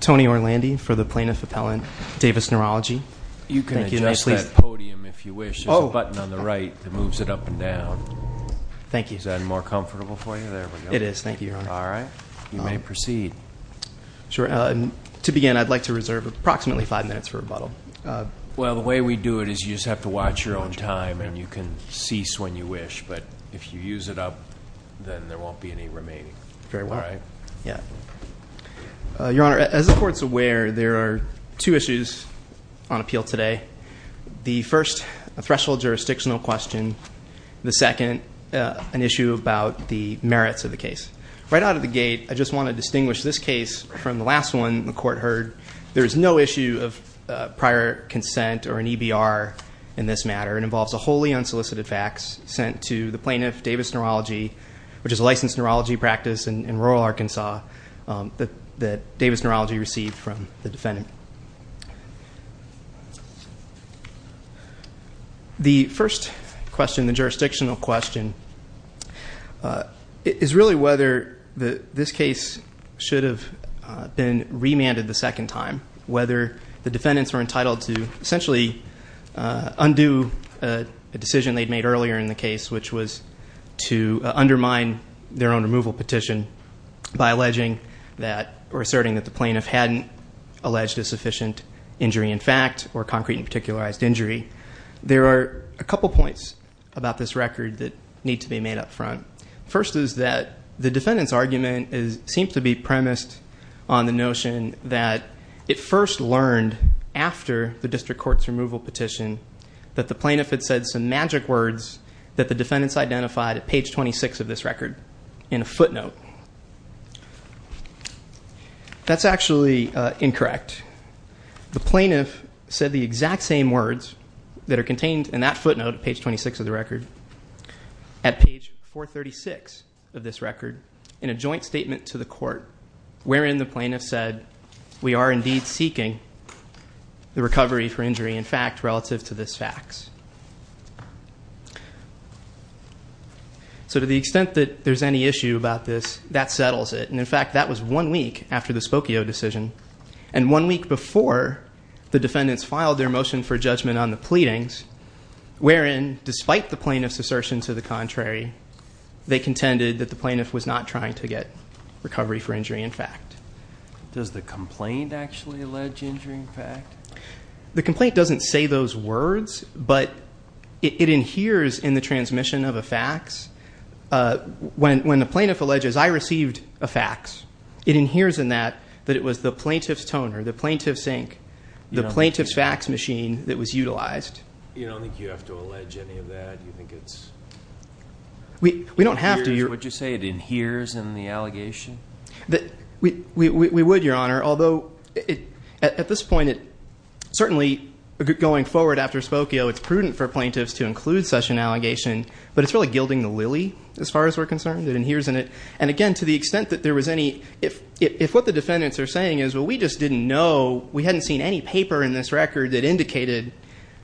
Tony Orlandi for the Plaintiff Appellant Davis Neurology. You can adjust that podium if you wish. There's a button on the right that moves it up and down. Thank you. Is that more comfortable for you? There we go. It is, thank you, Your Honor. All right, you may proceed. Sure, to begin, I'd like to reserve approximately five minutes for rebuttal. Well, the way we do it is you just have to watch your own time, and you can cease when you wish. But if you use it up, then there won't be any remaining. Very well. Yeah. Your Honor, as the court's aware, there are two issues on appeal today. The first, a threshold jurisdictional question. The second, an issue about the merits of the case. Right out of the gate, I just want to distinguish this case from the last one the court heard. There is no issue of prior consent or an EBR in this matter. It involves a wholly unsolicited fax sent to the plaintiff, Davis Neurology, which is a licensed neurology practice in rural Arkansas that Davis Neurology received from the defendant. The first question, the jurisdictional question, is really whether this case should have been remanded the second time. Whether the defendants were entitled to essentially undo a decision they'd made earlier in the case, which was to undermine their own removal petition by alleging that, or asserting that the plaintiff hadn't alleged a sufficient injury in fact, or concrete and particularized injury. There are a couple points about this record that need to be made up front. First is that the defendant's argument seems to be premised on the notion that it first learned after the district court's removal petition, that the plaintiff had said some magic words that the defendants identified at page 26 of this record in a footnote. That's actually incorrect. The plaintiff said the exact same words that are contained in that footnote, page 26 of the record, at page 436 of this record, in a joint statement to the court. Wherein the plaintiff said, we are indeed seeking the recovery for injury in fact, relative to this fax. So to the extent that there's any issue about this, that settles it. And in fact, that was one week after the Spokio decision. And one week before the defendants filed their motion for judgment on the pleadings, wherein despite the plaintiff's assertion to the contrary, they contended that the plaintiff was not trying to get recovery for injury in fact. Does the complaint actually allege injury in fact? The complaint doesn't say those words, but it inheres in the transmission of a fax. When the plaintiff alleges I received a fax, it inheres in that, that it was the plaintiff's toner, the plaintiff's sink, the plaintiff's fax machine that was utilized. You don't think you have to allege any of that? You think it's- We don't have to. Would you say it inheres in the allegation? We would, your honor. Although, at this point, certainly going forward after Spokio, it's prudent for plaintiffs to include such an allegation. But it's really gilding the lily, as far as we're concerned. It inheres in it. And again, to the extent that there was any, if what the defendants are saying is, well, we just didn't know, we hadn't seen any paper in this record that indicated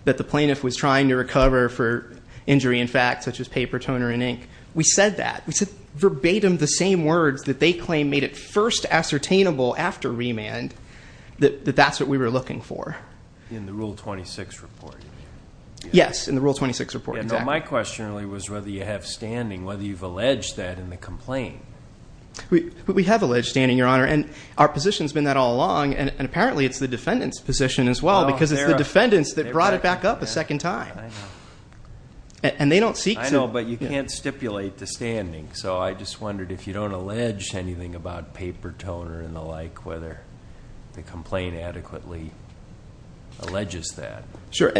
that the plaintiff was trying to recover for injury in fact, such as paper, toner, and ink. We said that. We said verbatim the same words that they claim made it first ascertainable after remand, that that's what we were looking for. In the Rule 26 report, you mean? Yes, in the Rule 26 report, exactly. Yeah, no, my question really was whether you have standing, whether you've alleged that in the complaint. We have alleged standing, your honor, and our position's been that all along. And apparently, it's the defendant's position as well, because it's the defendants that brought it back up a second time. I know. And they don't seek to- I know, but you can't stipulate the standing. So I just wondered if you don't allege anything about paper, toner, and the like, whether the complaint adequately alleges that. Sure,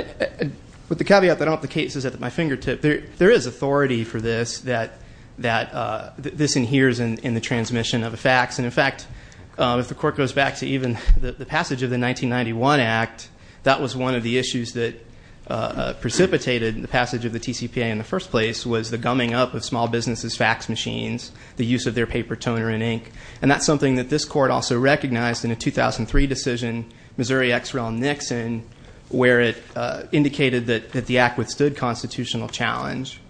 with the caveat that I don't have the cases at my fingertip, there is authority for this, that this inheres in the transmission of the facts. And in fact, if the court goes back to even the passage of the 1991 act, that was one of the issues that precipitated the passage of the TCPA in the first place, was the gumming up of small businesses' fax machines, the use of their paper, toner, and ink. And that's something that this court also recognized in a 2003 decision, Missouri-Exrail-Nixon, where it indicated that the act withstood constitutional challenge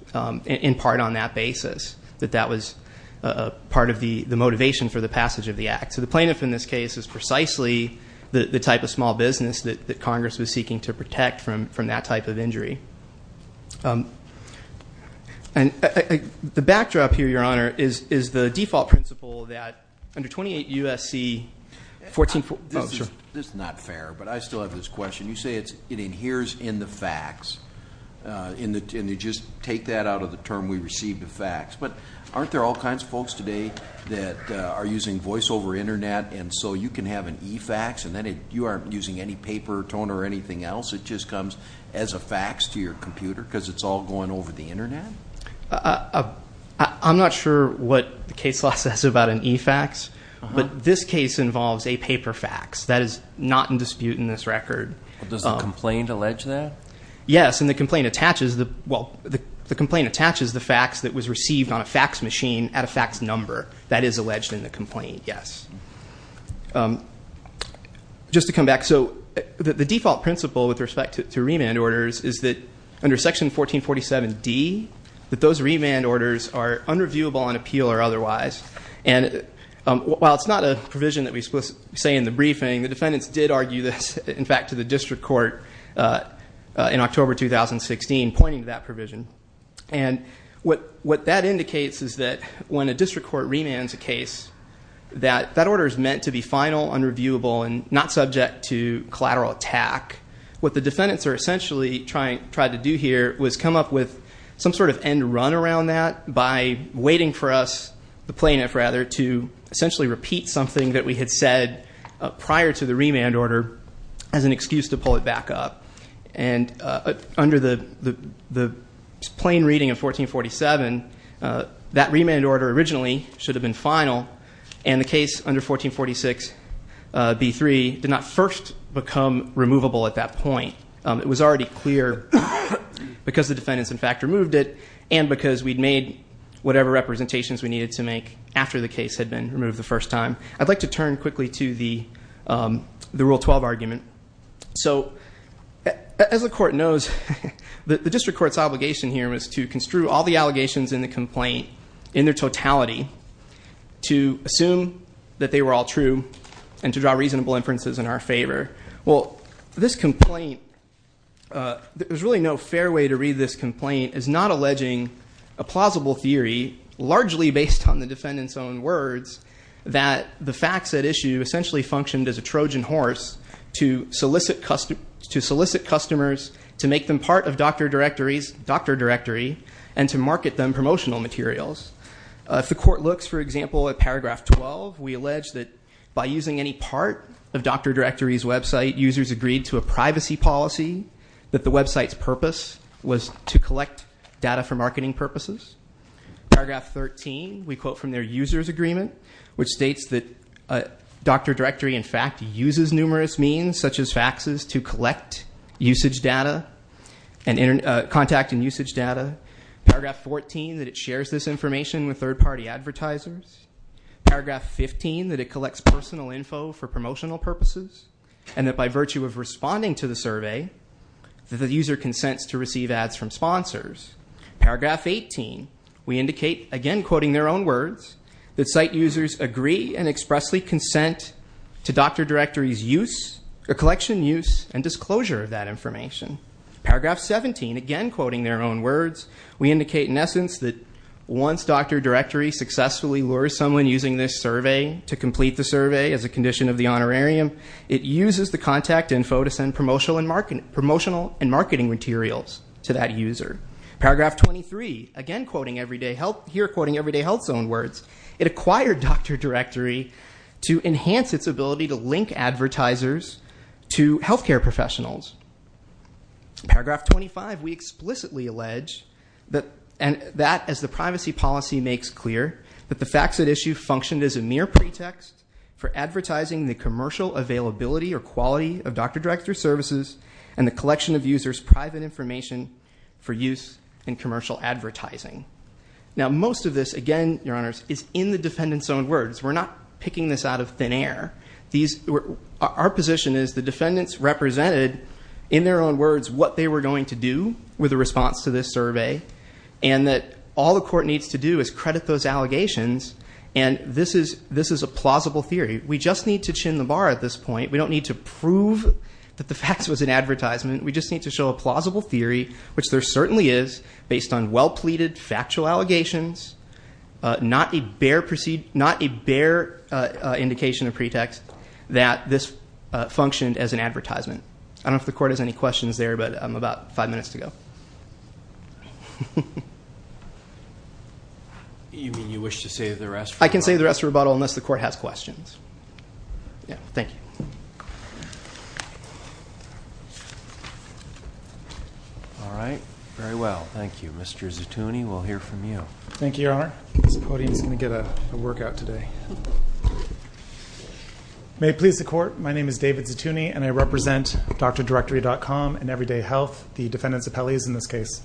in part on that basis. That that was part of the motivation for the passage of the act. So the plaintiff in this case is precisely the type of small business that Congress was seeking to protect from that type of injury. And the backdrop here, Your Honor, is the default principle that under 28 U.S.C. 14, oh, sure. This is not fair, but I still have this question. You say it inheres in the facts, and you just take that out of the term we receive the facts. But aren't there all kinds of folks today that are using voice over internet, and so you can have an e-fax, and then you aren't using any paper, toner, or anything else. It just comes as a fax to your computer, because it's all going over the internet? I'm not sure what the case law says about an e-fax, but this case involves a paper fax. That is not in dispute in this record. Does the complaint allege that? Yes, and the complaint attaches the, well, the complaint attaches the fax that was received on a fax machine at a fax number. That is alleged in the complaint, yes. Just to come back, so the default principle with respect to remand orders is that under section 1447D, that those remand orders are unreviewable on appeal or otherwise. And while it's not a provision that we say in the briefing, the defendants did argue this, in fact, to the district court in October 2016, pointing to that provision. And what that indicates is that when a district court remands a case, that that order is meant to be final, unreviewable, and not subject to collateral attack. What the defendants are essentially trying to do here was come up with some sort of end run around that by waiting for us, the plaintiff rather, to essentially repeat something that we had said prior to the remand order as an excuse to pull it back up. And under the plain reading of 1447, that remand order originally should have been final. And the case under 1446B3 did not first become removable at that point. It was already clear because the defendants, in fact, removed it, and because we'd made whatever representations we needed to make after the case had been removed the first time. I'd like to turn quickly to the rule 12 argument. So, as the court knows, the district court's obligation here was to construe all the allegations in the complaint, in their totality, to assume that they were all true, and to draw reasonable inferences in our favor. Well, this complaint, there's really no fair way to read this complaint, is not alleging a plausible theory, largely based on the defendant's own words, that the facts at issue essentially functioned as a Trojan horse to solicit customers to make them part of Dr. Directory and to market them promotional materials. If the court looks, for example, at paragraph 12, we allege that by using any part of Dr. Directory's website, users agreed to a privacy policy that the website's purpose was to collect data for marketing purposes. Paragraph 13, we quote from their user's agreement, which states that Dr. Directory, in fact, uses numerous means, such as faxes, to collect usage data and contact and usage data. Paragraph 14, that it shares this information with third party advertisers. Paragraph 15, that it collects personal info for promotional purposes. And that by virtue of responding to the survey, that the user consents to receive ads from sponsors. Paragraph 18, we indicate, again quoting their own words, that site users agree and expressly consent to Dr. Directory's use, collection use, and disclosure of that information. Paragraph 17, again quoting their own words, we indicate in essence that once Dr. Directory successfully lures someone using this survey to complete the survey as a condition of the honorarium, it uses the contact info to send promotional and marketing materials to that user. Paragraph 23, again quoting everyday health, here quoting everyday health's own words, it acquired Dr. Directory to enhance its ability to link advertisers to healthcare professionals. Paragraph 25, we explicitly allege that as the privacy policy makes clear, that the facts at issue functioned as a mere pretext for advertising the commercial availability or quality of Dr. Directory services and the collection of users' private information for use in commercial advertising. Now most of this, again, your honors, is in the defendant's own words. We're not picking this out of thin air. Our position is the defendants represented in their own words what they were going to do with a response to this survey. And that all the court needs to do is credit those allegations and this is a plausible theory. We just need to chin the bar at this point. We don't need to prove that the facts was an advertisement. We just need to show a plausible theory, which there certainly is, based on well pleaded factual allegations. Not a bare indication or pretext that this functioned as an advertisement. I don't know if the court has any questions there, but I'm about five minutes to go. You mean you wish to save the rest for rebuttal? I can save the rest for rebuttal unless the court has questions. Yeah, thank you. All right, very well, thank you. Mr. Zetouni, we'll hear from you. Thank you, your honor. This podium's going to get a workout today. May it please the court, my name is David Zetouni and I represent DrDirectory.com and Everyday Health, the defendant's appellees in this case.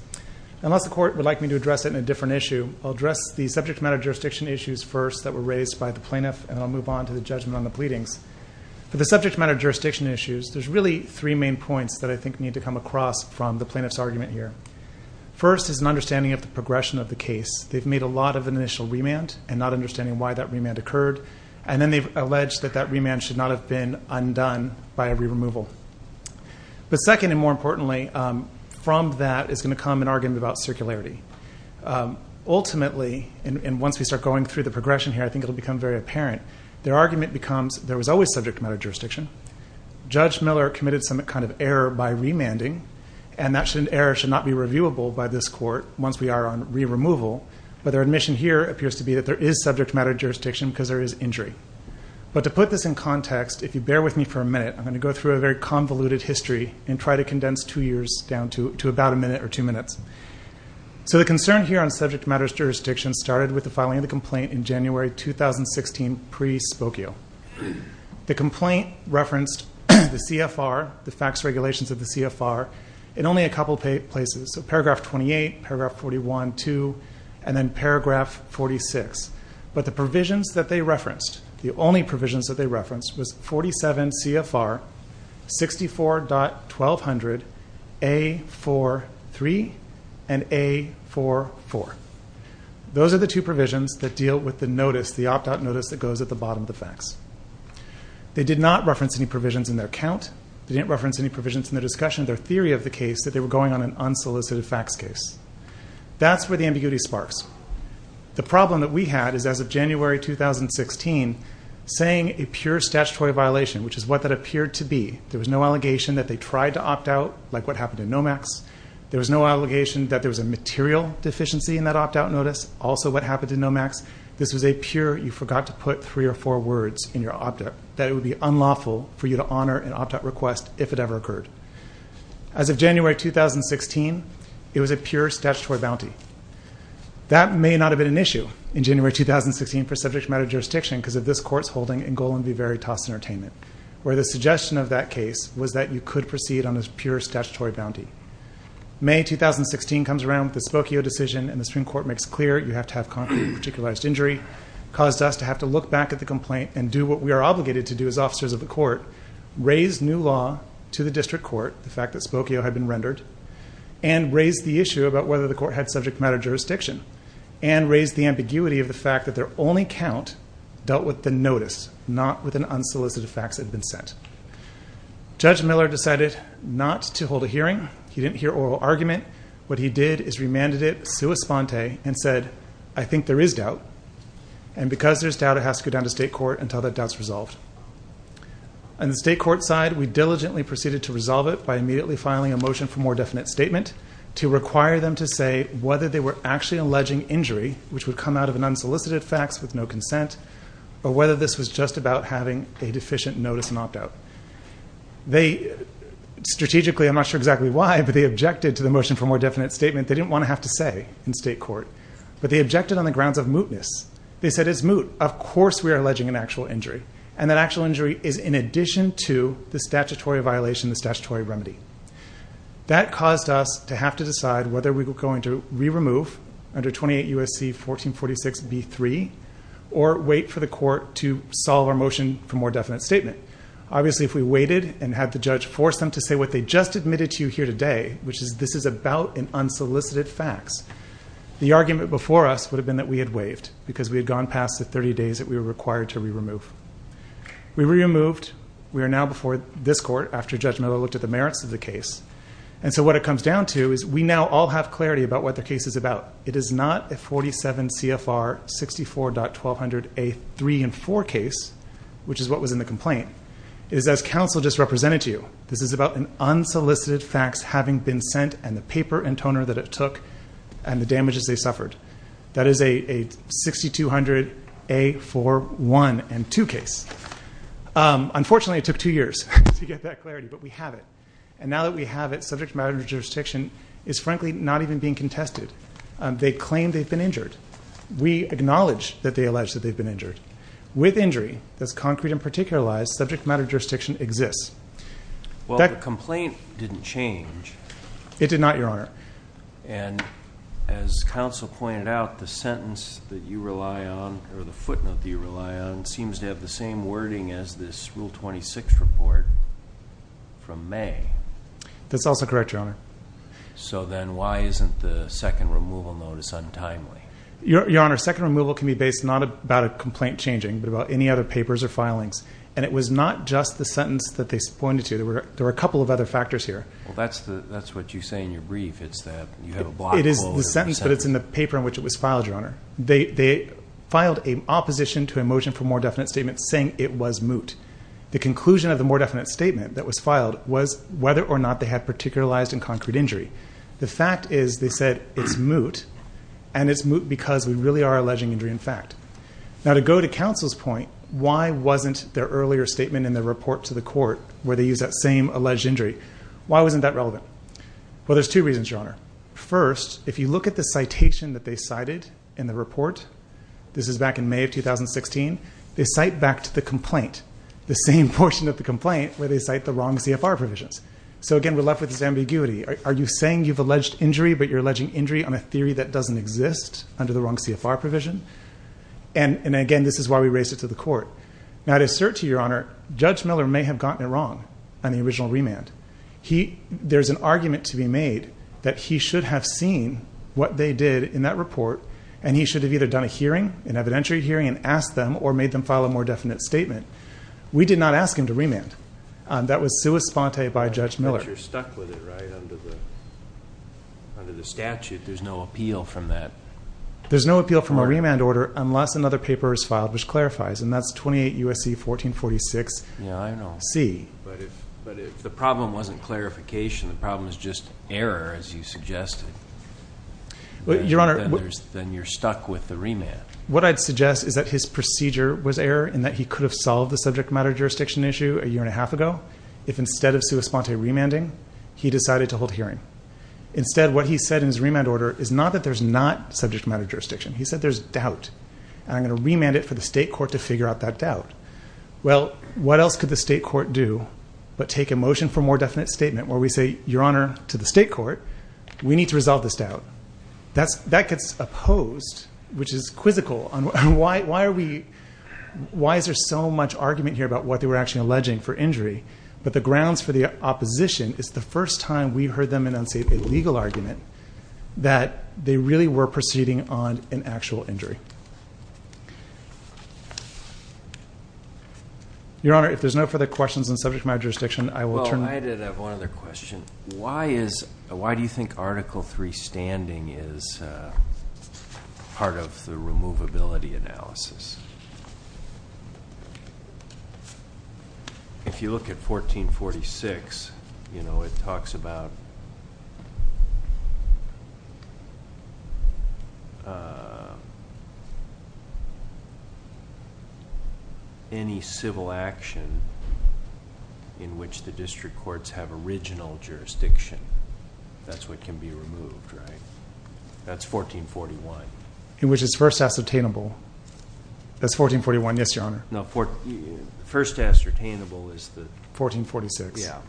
Unless the court would like me to address it in a different issue, I'll address the subject matter jurisdiction issues first that were raised by the plaintiff and I'll move on to the judgment on the pleadings. For the subject matter jurisdiction issues, there's really three main points that I think need to come across from the plaintiff's argument here. First is an understanding of the progression of the case. They've made a lot of an initial remand and not understanding why that remand occurred. And then they've alleged that that remand should not have been undone by a re-removal. But second and more importantly, from that is going to come an argument about circularity. Ultimately, and once we start going through the progression here, I think it'll become very apparent, their argument becomes there was always subject matter jurisdiction. Judge Miller committed some kind of error by remanding and that error should not be reviewable by this court once we are on re-removal. But their admission here appears to be that there is subject matter jurisdiction because there is injury. But to put this in context, if you bear with me for a minute, I'm going to go through a very convoluted history and try to condense two years down to about a minute or two minutes. So the concern here on subject matter jurisdiction started with the filing of the complaint in January 2016 pre-Spokio. The complaint referenced the CFR, the fax regulations of the CFR, in only a couple of places. So paragraph 28, paragraph 41-2, and then paragraph 46. But the provisions that they referenced, the only provisions that they referenced, was 47 CFR, 64.1200, A-4-3, and A-4-4. Those are the two provisions that deal with the notice, the opt-out notice that goes at the bottom of the fax. They did not reference any provisions in their count. They didn't reference any provisions in their discussion of their theory of the case that they were going on an unsolicited fax case. That's where the ambiguity sparks. The problem that we had is, as of January 2016, saying a pure statutory violation, which is what that appeared to be. There was no allegation that they tried to opt out, like what happened in NOMAX. There was no allegation that there was a material deficiency in that opt-out notice, also what happened in NOMAX. This was a pure, you forgot to put three or four words in your opt-out, that it would be unlawful for you to honor an opt-out request if it ever occurred. As of January 2016, it was a pure statutory bounty. That may not have been an issue in January 2016 for subject matter jurisdiction because of this court's holding in Golan v. Veritas Entertainment, where the suggestion of that case was that you could proceed on a pure statutory bounty. May 2016 comes around with the Spokio decision, and the Supreme Court makes clear you have to have concrete and particularized injury, caused us to have to look back at the complaint and do what we are obligated to do as officers of the court, raise new law to the district court, the fact that Spokio had been rendered, and raise the issue about whether the court had subject matter jurisdiction, and raise the ambiguity of the fact that their only count dealt with the notice, not with an unsolicited fax that had been sent. Judge Miller decided not to hold a hearing. He didn't hear oral argument. What he did is remanded it sua sponte and said, I think there is doubt, and because there is doubt, it has to go down to state court until that doubt is resolved. On the state court side, we diligently proceeded to resolve it by immediately filing a motion for more definite statement to require them to say whether they were actually alleging injury, which would come out of an unsolicited fax with no consent, or whether this was just about having a deficient notice and opt-out. Strategically, I'm not sure exactly why, but they objected to the motion for more definite statement. They didn't want to have to say in state court, but they objected on the grounds of mootness. They said it's moot. Of course we are alleging an actual injury, and that actual injury is in addition to the statutory violation, the statutory remedy. That caused us to have to decide whether we were going to re-remove under 28 U.S.C. 1446 B.3, or wait for the court to solve our motion for more definite statement. Obviously, if we waited and had the judge force them to say what they just admitted to you here today, which is this is about an unsolicited fax, the argument before us would have been that we had waived, because we had gone past the 30 days that we were required to re-remove. We re-removed. We are now before this court after Judge Miller looked at the merits of the case. And so what it comes down to is we now all have clarity about what the case is about. It is not a 47 CFR 64.1200A 3 and 4 case, which is what was in the complaint. It is as counsel just represented to you. This is about an unsolicited fax having been sent, and the paper and toner that it took, and the damages they suffered. That is a 6200A 4 1 and 2 case. Unfortunately, it took two years to get that clarity, but we have it. And now that we have it, subject matter jurisdiction is frankly not even being contested. They claim they've been injured. We acknowledge that they allege that they've been injured. With injury that's concrete and particularized, subject matter jurisdiction exists. Well, the complaint didn't change. It did not, Your Honor. And as counsel pointed out, the sentence that you rely on, or the footnote that you rely on, seems to have the same wording as this Rule 26 report from May. That's also correct, Your Honor. So then why isn't the second removal notice untimely? Your Honor, second removal can be based not about a complaint changing, but about any other papers or filings. And it was not just the sentence that they pointed to. There were a couple of other factors here. Well, that's what you say in your brief. It's that you have a block close. It is the sentence, but it's in the paper in which it was filed, Your Honor. They filed an opposition to a motion for more definite statements saying it was moot. The conclusion of the more definite statement that was filed was whether or not they had particularized and concrete injury. The fact is they said it's moot, and it's moot because we really are alleging injury in fact. Now, to go to counsel's point, why wasn't their earlier statement in the report to the court, where they use that same alleged injury, why wasn't that relevant? Well, there's two reasons, Your Honor. First, if you look at the citation that they cited in the report, this is back in May of 2016, they cite back to the complaint, the same portion of the complaint where they cite the wrong CFR provisions. So, again, we're left with this ambiguity. Are you saying you've alleged injury, but you're alleging injury on a theory that doesn't exist under the wrong CFR provision? And, again, this is why we raised it to the court. Now, to assert to you, Your Honor, Judge Miller may have gotten it wrong on the original remand. There's an argument to be made that he should have seen what they did in that report, and he should have either done a hearing, an evidentiary hearing, and asked them or made them file a more definite statement. We did not ask him to remand. That was sua sponte by Judge Miller. But you're stuck with it, right, under the statute. There's no appeal from that. There's no appeal from a remand order unless another paper is filed, which clarifies, and that's 28 U.S.C. 1446 C. But if the problem wasn't clarification, the problem is just error, as you suggested, then you're stuck with the remand. What I'd suggest is that his procedure was error in that he could have solved the subject matter jurisdiction issue a year and a half ago if instead of sua sponte remanding, he decided to hold a hearing. Instead, what he said in his remand order is not that there's not subject matter jurisdiction. He said there's doubt. I'm going to remand it for the state court to figure out that doubt. Well, what else could the state court do but take a motion for a more definite statement where we say, Your Honor, to the state court, we need to resolve this doubt? That gets opposed, which is quizzical. Why is there so much argument here about what they were actually alleging for injury? But the grounds for the opposition is the first time we heard them enunciate a legal argument that they really were proceeding on an actual injury. Your Honor, if there's no further questions on subject matter jurisdiction, I will turn. Well, I did have one other question. Why do you think Article III standing is part of the removability analysis? If you look at 1446, it talks about any civil action in which the district courts have original jurisdiction. That's what can be removed, right? That's 1441. In which it's first ascertainable. That's 1441, yes, Your Honor. No, first ascertainable is the... 1446. Yeah.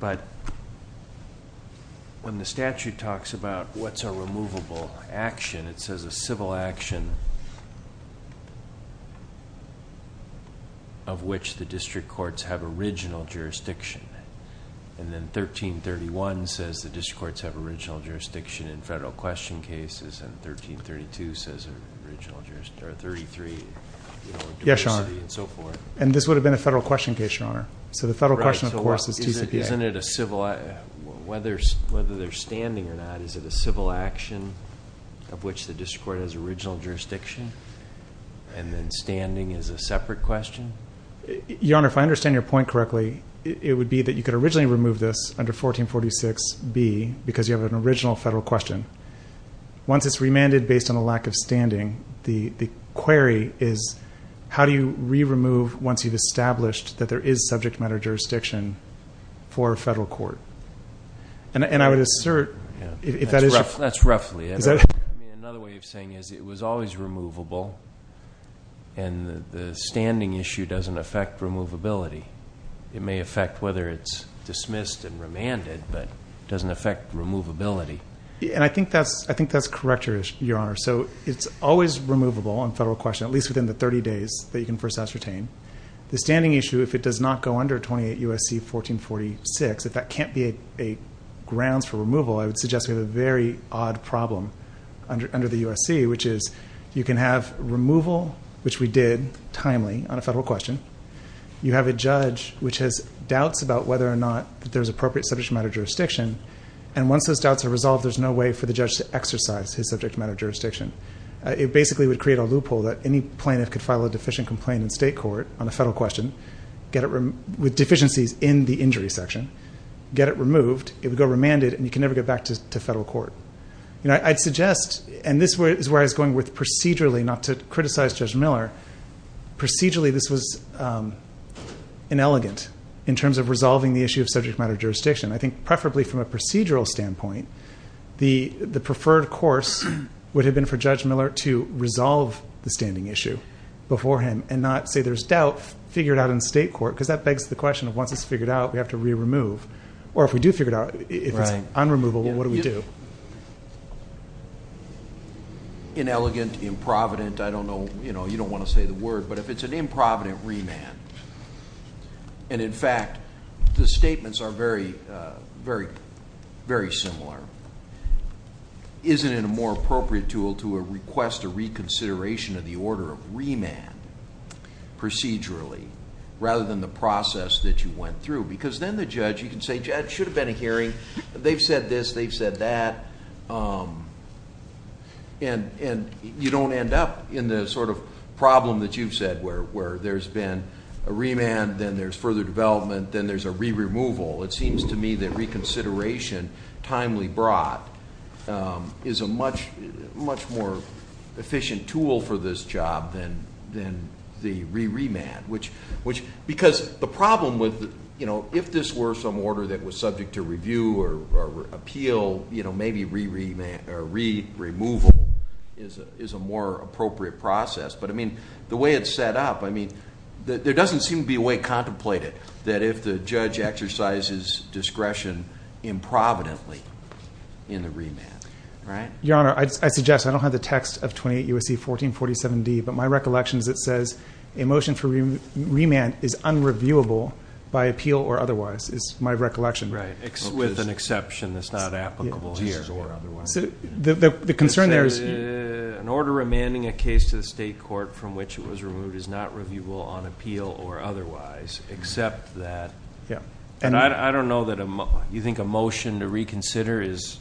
But when the statute talks about what's a removable action, it says a civil action of which the district courts have original jurisdiction. And then 1331 says the district courts have original jurisdiction in federal question cases, and 1332 says there are 33 in diversity and so forth. Yes, Your Honor. And this would have been a federal question case, Your Honor. So the federal question, of course, is TCPA. Isn't it a civil... Whether they're standing or not, is it a civil action of which the district court has original jurisdiction? And then standing is a separate question? Your Honor, if I understand your point correctly, it would be that you could originally remove this under 1446B because you have an original federal question. Once it's remanded based on a lack of standing, the query is, how do you re-remove once you've established that there is subject matter jurisdiction for a federal court? And I would assert if that is... That's roughly it. Another way of saying it is it was always removable, and the standing issue doesn't affect removability. It may affect whether it's dismissed and remanded, but it doesn't affect removability. And I think that's correct, Your Honor. So it's always removable in federal question, at least within the 30 days that you can first ascertain. The standing issue, if it does not go under 28 U.S.C. 1446, if that can't be a grounds for removal, I would suggest we have a very odd problem under the U.S.C., which is you can have removal, which we did timely on a federal question. You have a judge which has doubts about whether or not there's appropriate subject matter jurisdiction, and once those doubts are resolved, there's no way for the judge to exercise his subject matter jurisdiction. It basically would create a loophole that any plaintiff could file a deficient complaint in state court on a federal question with deficiencies in the injury section, get it removed, it would go remanded, and you can never get back to federal court. I'd suggest, and this is where I was going with procedurally, not to criticize Judge Miller, procedurally this was inelegant in terms of resolving the issue of subject matter jurisdiction. I think preferably from a procedural standpoint, the preferred course would have been for Judge Miller to resolve the standing issue beforehand and not say there's doubt figured out in state court, because that begs the question of once it's figured out, we have to re-remove. Or if we do figure it out, if it's unremovable, what do we do? Inelegant, improvident, I don't know, you don't want to say the word, but if it's an improvident remand, and in fact the statements are very similar, isn't it a more appropriate tool to request a reconsideration of the order of remand procedurally rather than the process that you went through? Because then the judge, you can say, Judge, it should have been a hearing. They've said this, they've said that. And you don't end up in the sort of problem that you've said, where there's been a remand, then there's further development, then there's a re-removal. It seems to me that reconsideration, timely brought, is a much more efficient tool for this job than the re-remand. Because the problem with, if this were some order that was subject to review or appeal, maybe re-removal is a more appropriate process. But I mean, the way it's set up, there doesn't seem to be a way to contemplate it. That if the judge exercises discretion improvidently in the remand, right? Your Honor, I suggest, I don't have the text of 28 U.S.C. 1447D, but my recollection is it says, a motion for remand is unreviewable by appeal or otherwise, is my recollection. Right, with an exception that's not applicable here. Or otherwise. The concern there is... An order remanding a case to the state court from which it was removed is not reviewable on appeal or otherwise, except that... Yeah. And I don't know that... You think a motion to reconsider is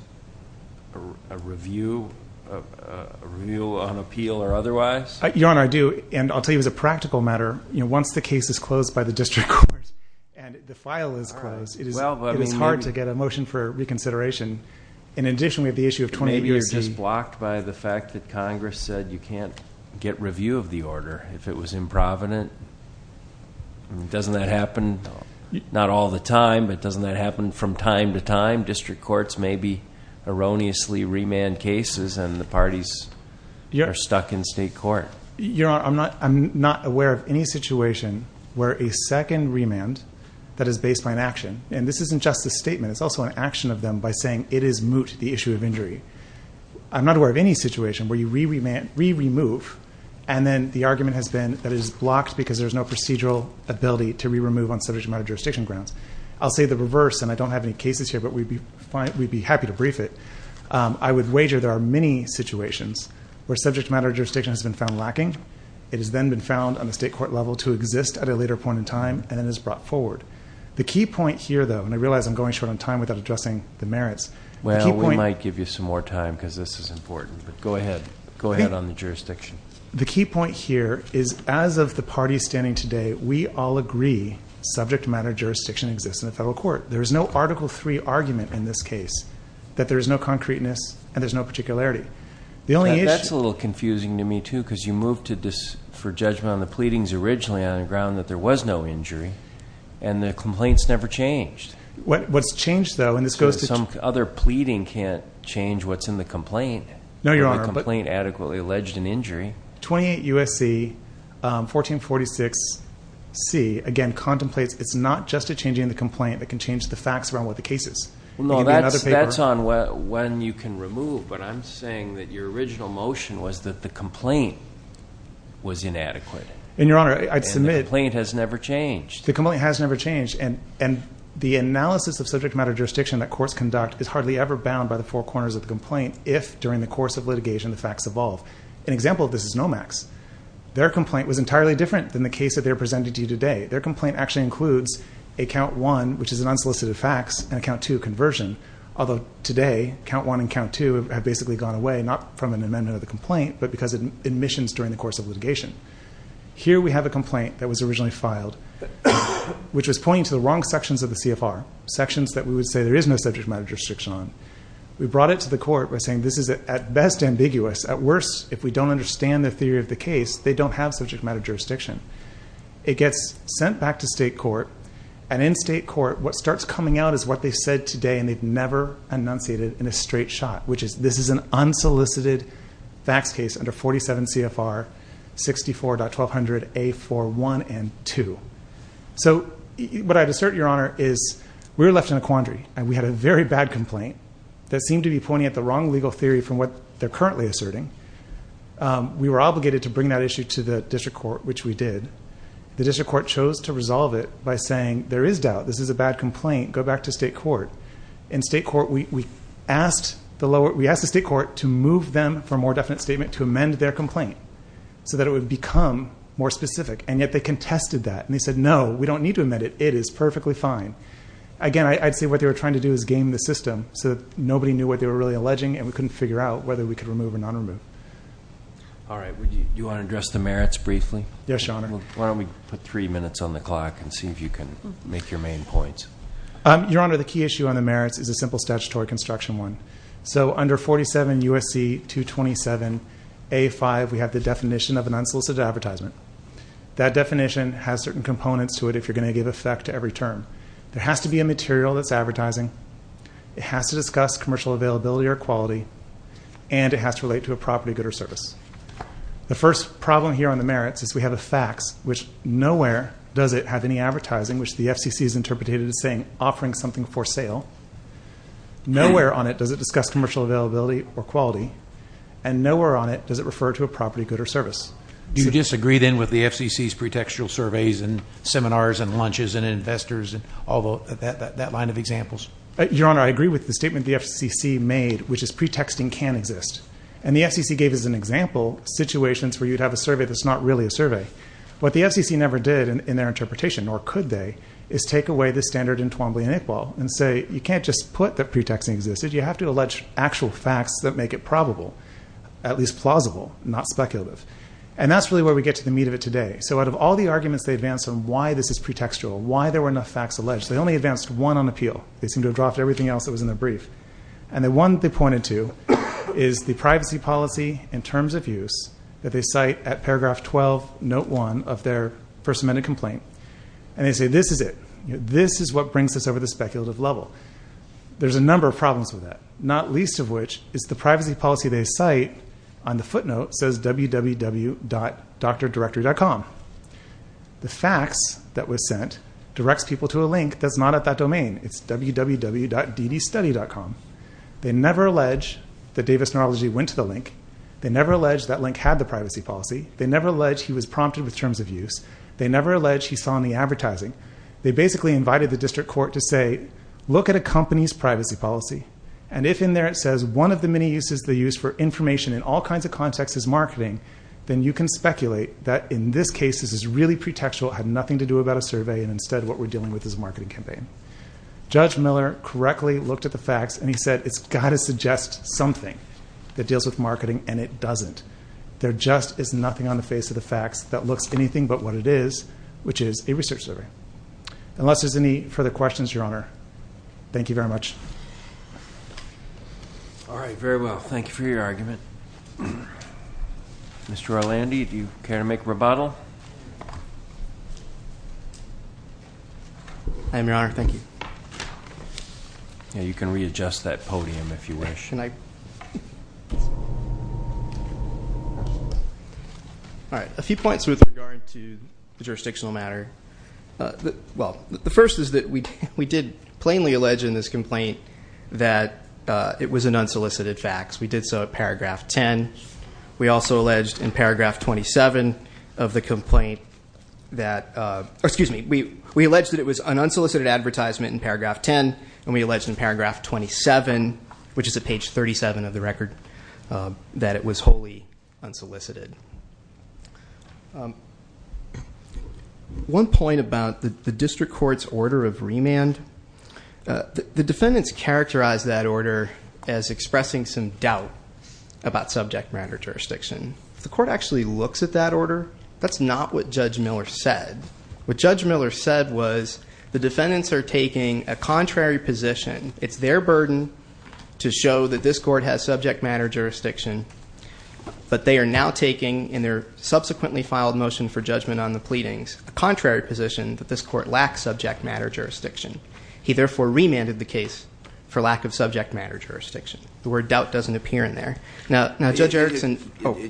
a review on appeal or otherwise? Your Honor, I do, and I'll tell you as a practical matter, once the case is closed by the district court and the file is closed, it is hard to get a motion for reconsideration. And in addition, we have the issue of 28 U.S.C.... Maybe you're just blocked by the fact that Congress said you can't get review of the order. If it was improvident, doesn't that happen not all the time, but doesn't that happen from time to time? District courts maybe erroneously remand cases and the parties are stuck in state court. Your Honor, I'm not aware of any situation where a second remand that is based by an action, and this isn't just a statement, it's also an action of them by saying it is moot, the issue of injury. I'm not aware of any situation where you re-remove, and then the argument has been that it is blocked because there is no procedural ability to re-remove on subject matter jurisdiction grounds. I'll say the reverse, and I don't have any cases here, but we'd be happy to brief it. I would wager there are many situations where subject matter jurisdiction has been found lacking. It has then been found on the state court level to exist at a later point in time, and it is brought forward. The key point here, though, and I realize I'm going short on time without addressing the merits. Well, we might give you some more time because this is important, but go ahead. Go ahead on the jurisdiction. The key point here is as of the parties standing today, we all agree subject matter jurisdiction exists in the federal court. There is no Article III argument in this case that there is no concreteness and there is no particularity. That's a little confusing to me, too, because you moved for judgment on the pleadings originally on the ground that there was no injury, and the complaints never changed. What's changed, though, and this goes to- Some other pleading can't change what's in the complaint. No, Your Honor. The complaint adequately alleged an injury. 28 U.S.C. 1446C, again, contemplates it's not just a change in the complaint that can change the facts around what the case is. No, that's on when you can remove, but I'm saying that your original motion was that the complaint was inadequate. And, Your Honor, I'd submit- And the complaint has never changed. The complaint has never changed, and the analysis of subject matter jurisdiction that courts conduct is hardly ever bound by the four corners of the complaint if, during the course of litigation, the facts evolve. An example of this is NOMAX. Their complaint was entirely different than the case that they are presenting to you today. Their complaint actually includes a Count I, which is an unsolicited fax, and a Count II conversion, although today Count I and Count II have basically gone away, not from an amendment of the complaint, but because of admissions during the course of litigation. Here we have a complaint that was originally filed, which was pointing to the wrong sections of the CFR, sections that we would say there is no subject matter jurisdiction on. We brought it to the court by saying this is, at best, ambiguous. At worst, if we don't understand the theory of the case, they don't have subject matter jurisdiction. It gets sent back to state court, and in state court, what starts coming out is what they said today, and they've never enunciated it in a straight shot, which is this is an unsolicited fax case under 47 CFR 64.1200A41 and 2. So what I'd assert, Your Honor, is we were left in a quandary, and we had a very bad complaint that seemed to be pointing at the wrong legal theory from what they're currently asserting. We were obligated to bring that issue to the district court, which we did. The district court chose to resolve it by saying there is doubt. This is a bad complaint. Go back to state court. In state court, we asked the state court to move them for a more definite statement to amend their complaint so that it would become more specific, and yet they contested that, and they said, no, we don't need to amend it. It is perfectly fine. Again, I'd say what they were trying to do is game the system so that nobody knew what they were really alleging, and we couldn't figure out whether we could remove or not remove. All right. Do you want to address the merits briefly? Yes, Your Honor. Why don't we put three minutes on the clock and see if you can make your main points? Your Honor, the key issue on the merits is a simple statutory construction one. So under 47 U.S.C. 227A5, we have the definition of an unsolicited advertisement. That definition has certain components to it if you're going to give effect to every term. There has to be a material that's advertising. It has to discuss commercial availability or quality, and it has to relate to a property, good, or service. The first problem here on the merits is we have a fax, which nowhere does it have any advertising, which the FCC has interpreted as saying offering something for sale. Nowhere on it does it discuss commercial availability or quality, and nowhere on it does it refer to a property, good, or service. Do you disagree then with the FCC's pretextual surveys and seminars and lunches and investors and all that line of examples? Your Honor, I agree with the statement the FCC made, which is pretexting can exist, and the FCC gave as an example situations where you'd have a survey that's not really a survey. What the FCC never did in their interpretation, nor could they, is take away the standard in Twombly and Iqbal and say you can't just put that pretexting exists. You have to allege actual facts that make it probable, at least plausible, not speculative. That's really where we get to the meat of it today. Out of all the arguments they advanced on why this is pretextual, why there were enough facts alleged, they only advanced one on appeal. They seemed to have dropped everything else that was in their brief. The one they pointed to is the privacy policy in terms of use that they cite at paragraph 12, note one of their First Amendment complaint, and they say this is it. This is what brings us over the speculative level. There's a number of problems with that, not least of which is the privacy policy they cite on the footnote says www.drdirectory.com. The facts that was sent directs people to a link that's not at that domain. It's www.ddstudy.com. They never allege that Davis Neurology went to the link. They never allege that link had the privacy policy. They never allege he was prompted with terms of use. They never allege he saw in the advertising. They basically invited the district court to say look at a company's privacy policy, and if in there it says one of the many uses they use for information in all kinds of contexts is marketing, then you can speculate that in this case this is really pretextual, had nothing to do about a survey, and instead what we're dealing with is a marketing campaign. Judge Miller correctly looked at the facts, and he said it's got to suggest something that deals with marketing, and it doesn't. There just is nothing on the face of the facts that looks anything but what it is, which is a research survey. Unless there's any further questions, Your Honor, thank you very much. All right, very well. Thank you for your argument. Mr. Orlandi, do you care to make a rebuttal? I am, Your Honor. Thank you. You can readjust that podium if you wish. All right, a few points with regard to the jurisdictional matter. Well, the first is that we did plainly allege in this complaint that it was an unsolicited fax. We did so at paragraph 10. We also alleged in paragraph 27 of the complaint that we alleged that it was an unsolicited advertisement in paragraph 10, and we alleged in paragraph 27, which is at page 37 of the record, that it was wholly unsolicited. One point about the district court's order of remand, the defendants characterized that order as expressing some doubt about subject matter jurisdiction. The court actually looks at that order. That's not what Judge Miller said. What Judge Miller said was the defendants are taking a contrary position. It's their burden to show that this court has subject matter jurisdiction, but they are now taking in their subsequently filed motion for judgment on the pleadings a contrary position that this court lacks subject matter jurisdiction. He therefore remanded the case for lack of subject matter jurisdiction. The word doubt doesn't appear in there. It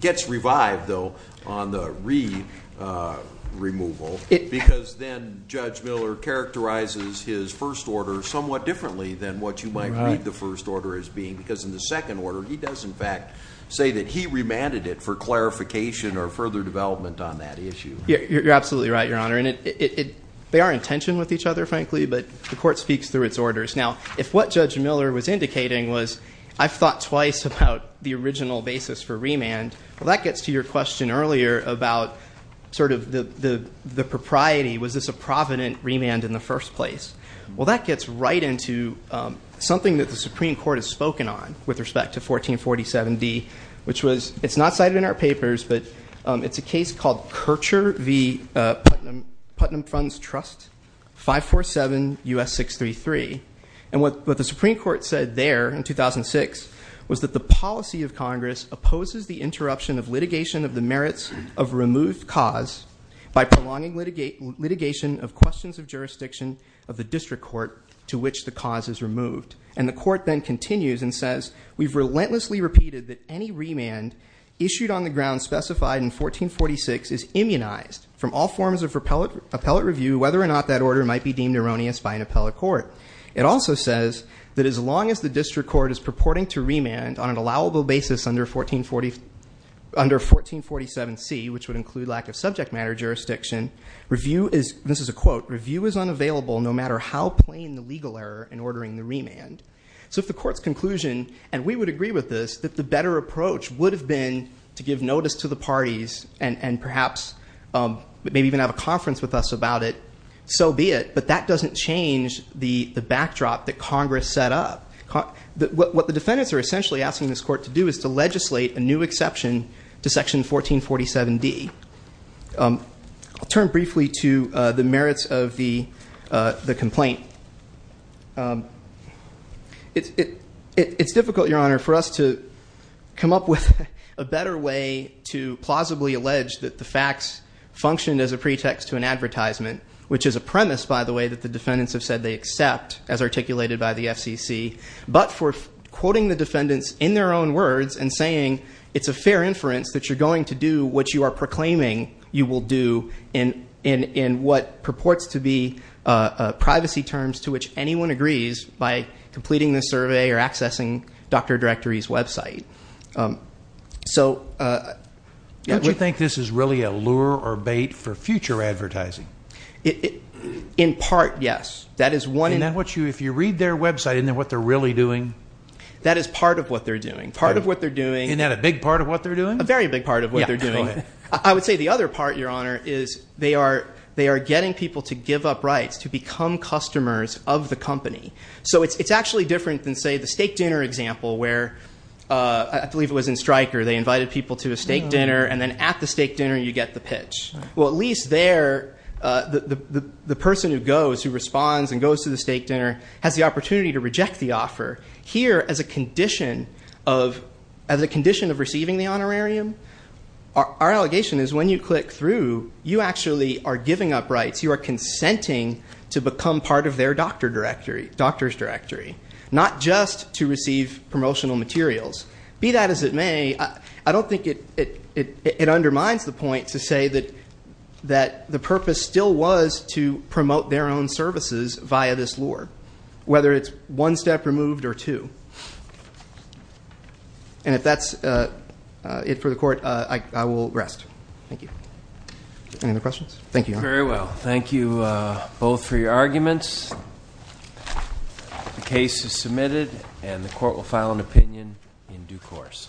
gets revived, though, on the re-removal, because then Judge Miller characterizes his first order somewhat differently than what you might read the first order as being, because in the second order he does, in fact, say that he remanded it for clarification or further development on that issue. You're absolutely right, Your Honor. They are in tension with each other, frankly, but the court speaks through its orders. Now, if what Judge Miller was indicating was I've thought twice about the original basis for remand, well, that gets to your question earlier about sort of the propriety. Was this a provident remand in the first place? Well, that gets right into something that the Supreme Court has spoken on with respect to 1447D, which was, it's not cited in our papers, but it's a case called Kircher v. Putnam Funds Trust, 547 U.S. 633. And what the Supreme Court said there in 2006 was that the policy of Congress opposes the interruption of litigation of the merits of removed cause by prolonging litigation of questions of jurisdiction of the district court to which the cause is removed. And the court then continues and says, we've relentlessly repeated that any remand issued on the ground specified in 1446 is immunized from all forms of appellate review, whether or not that order might be deemed erroneous by an appellate court. It also says that as long as the district court is purporting to remand on an allowable basis under 1447C, which would include lack of subject matter jurisdiction, review is, this is a quote, review is unavailable no matter how plain the legal error in ordering the remand. So if the court's conclusion, and we would agree with this, that the better approach would have been to give notice to the parties and perhaps maybe even have a conference with us about it, so be it. But that doesn't change the backdrop that Congress set up. What the defendants are essentially asking this court to do is to legislate a new exception to section 1447D. I'll turn briefly to the merits of the complaint. It's difficult, Your Honor, for us to come up with a better way to plausibly allege that the facts functioned as a pretext to an advertisement, which is a premise, by the way, that the defendants have said they accept as articulated by the FCC. But for quoting the defendants in their own words and saying, it's a fair inference that you're going to do what you are proclaiming you will do in what purports to be privacy terms to which anyone agrees by completing the survey or accessing Dr. Directory's website. Don't you think this is really a lure or bait for future advertising? In part, yes. If you read their website, isn't that what they're really doing? That is part of what they're doing. Isn't that a big part of what they're doing? A very big part of what they're doing. I would say the other part, Your Honor, is they are getting people to give up rights, to become customers of the company. So it's actually different than, say, the steak dinner example where, I believe it was in Stryker, they invited people to a steak dinner and then at the steak dinner you get the pitch. Well, at least there, the person who goes, who responds and goes to the steak dinner, has the opportunity to reject the offer. Here, as a condition of receiving the honorarium, our allegation is when you click through, you actually are giving up rights. You are consenting to become part of their doctor's directory, not just to receive promotional materials. Be that as it may, I don't think it undermines the point to say that the purpose still was to promote their own services via this lure, whether it's one step removed or two. And if that's it for the Court, I will rest. Thank you. Any other questions? Thank you, Your Honor. Very well. Thank you both for your arguments. The case is submitted and the Court will file an opinion in due course.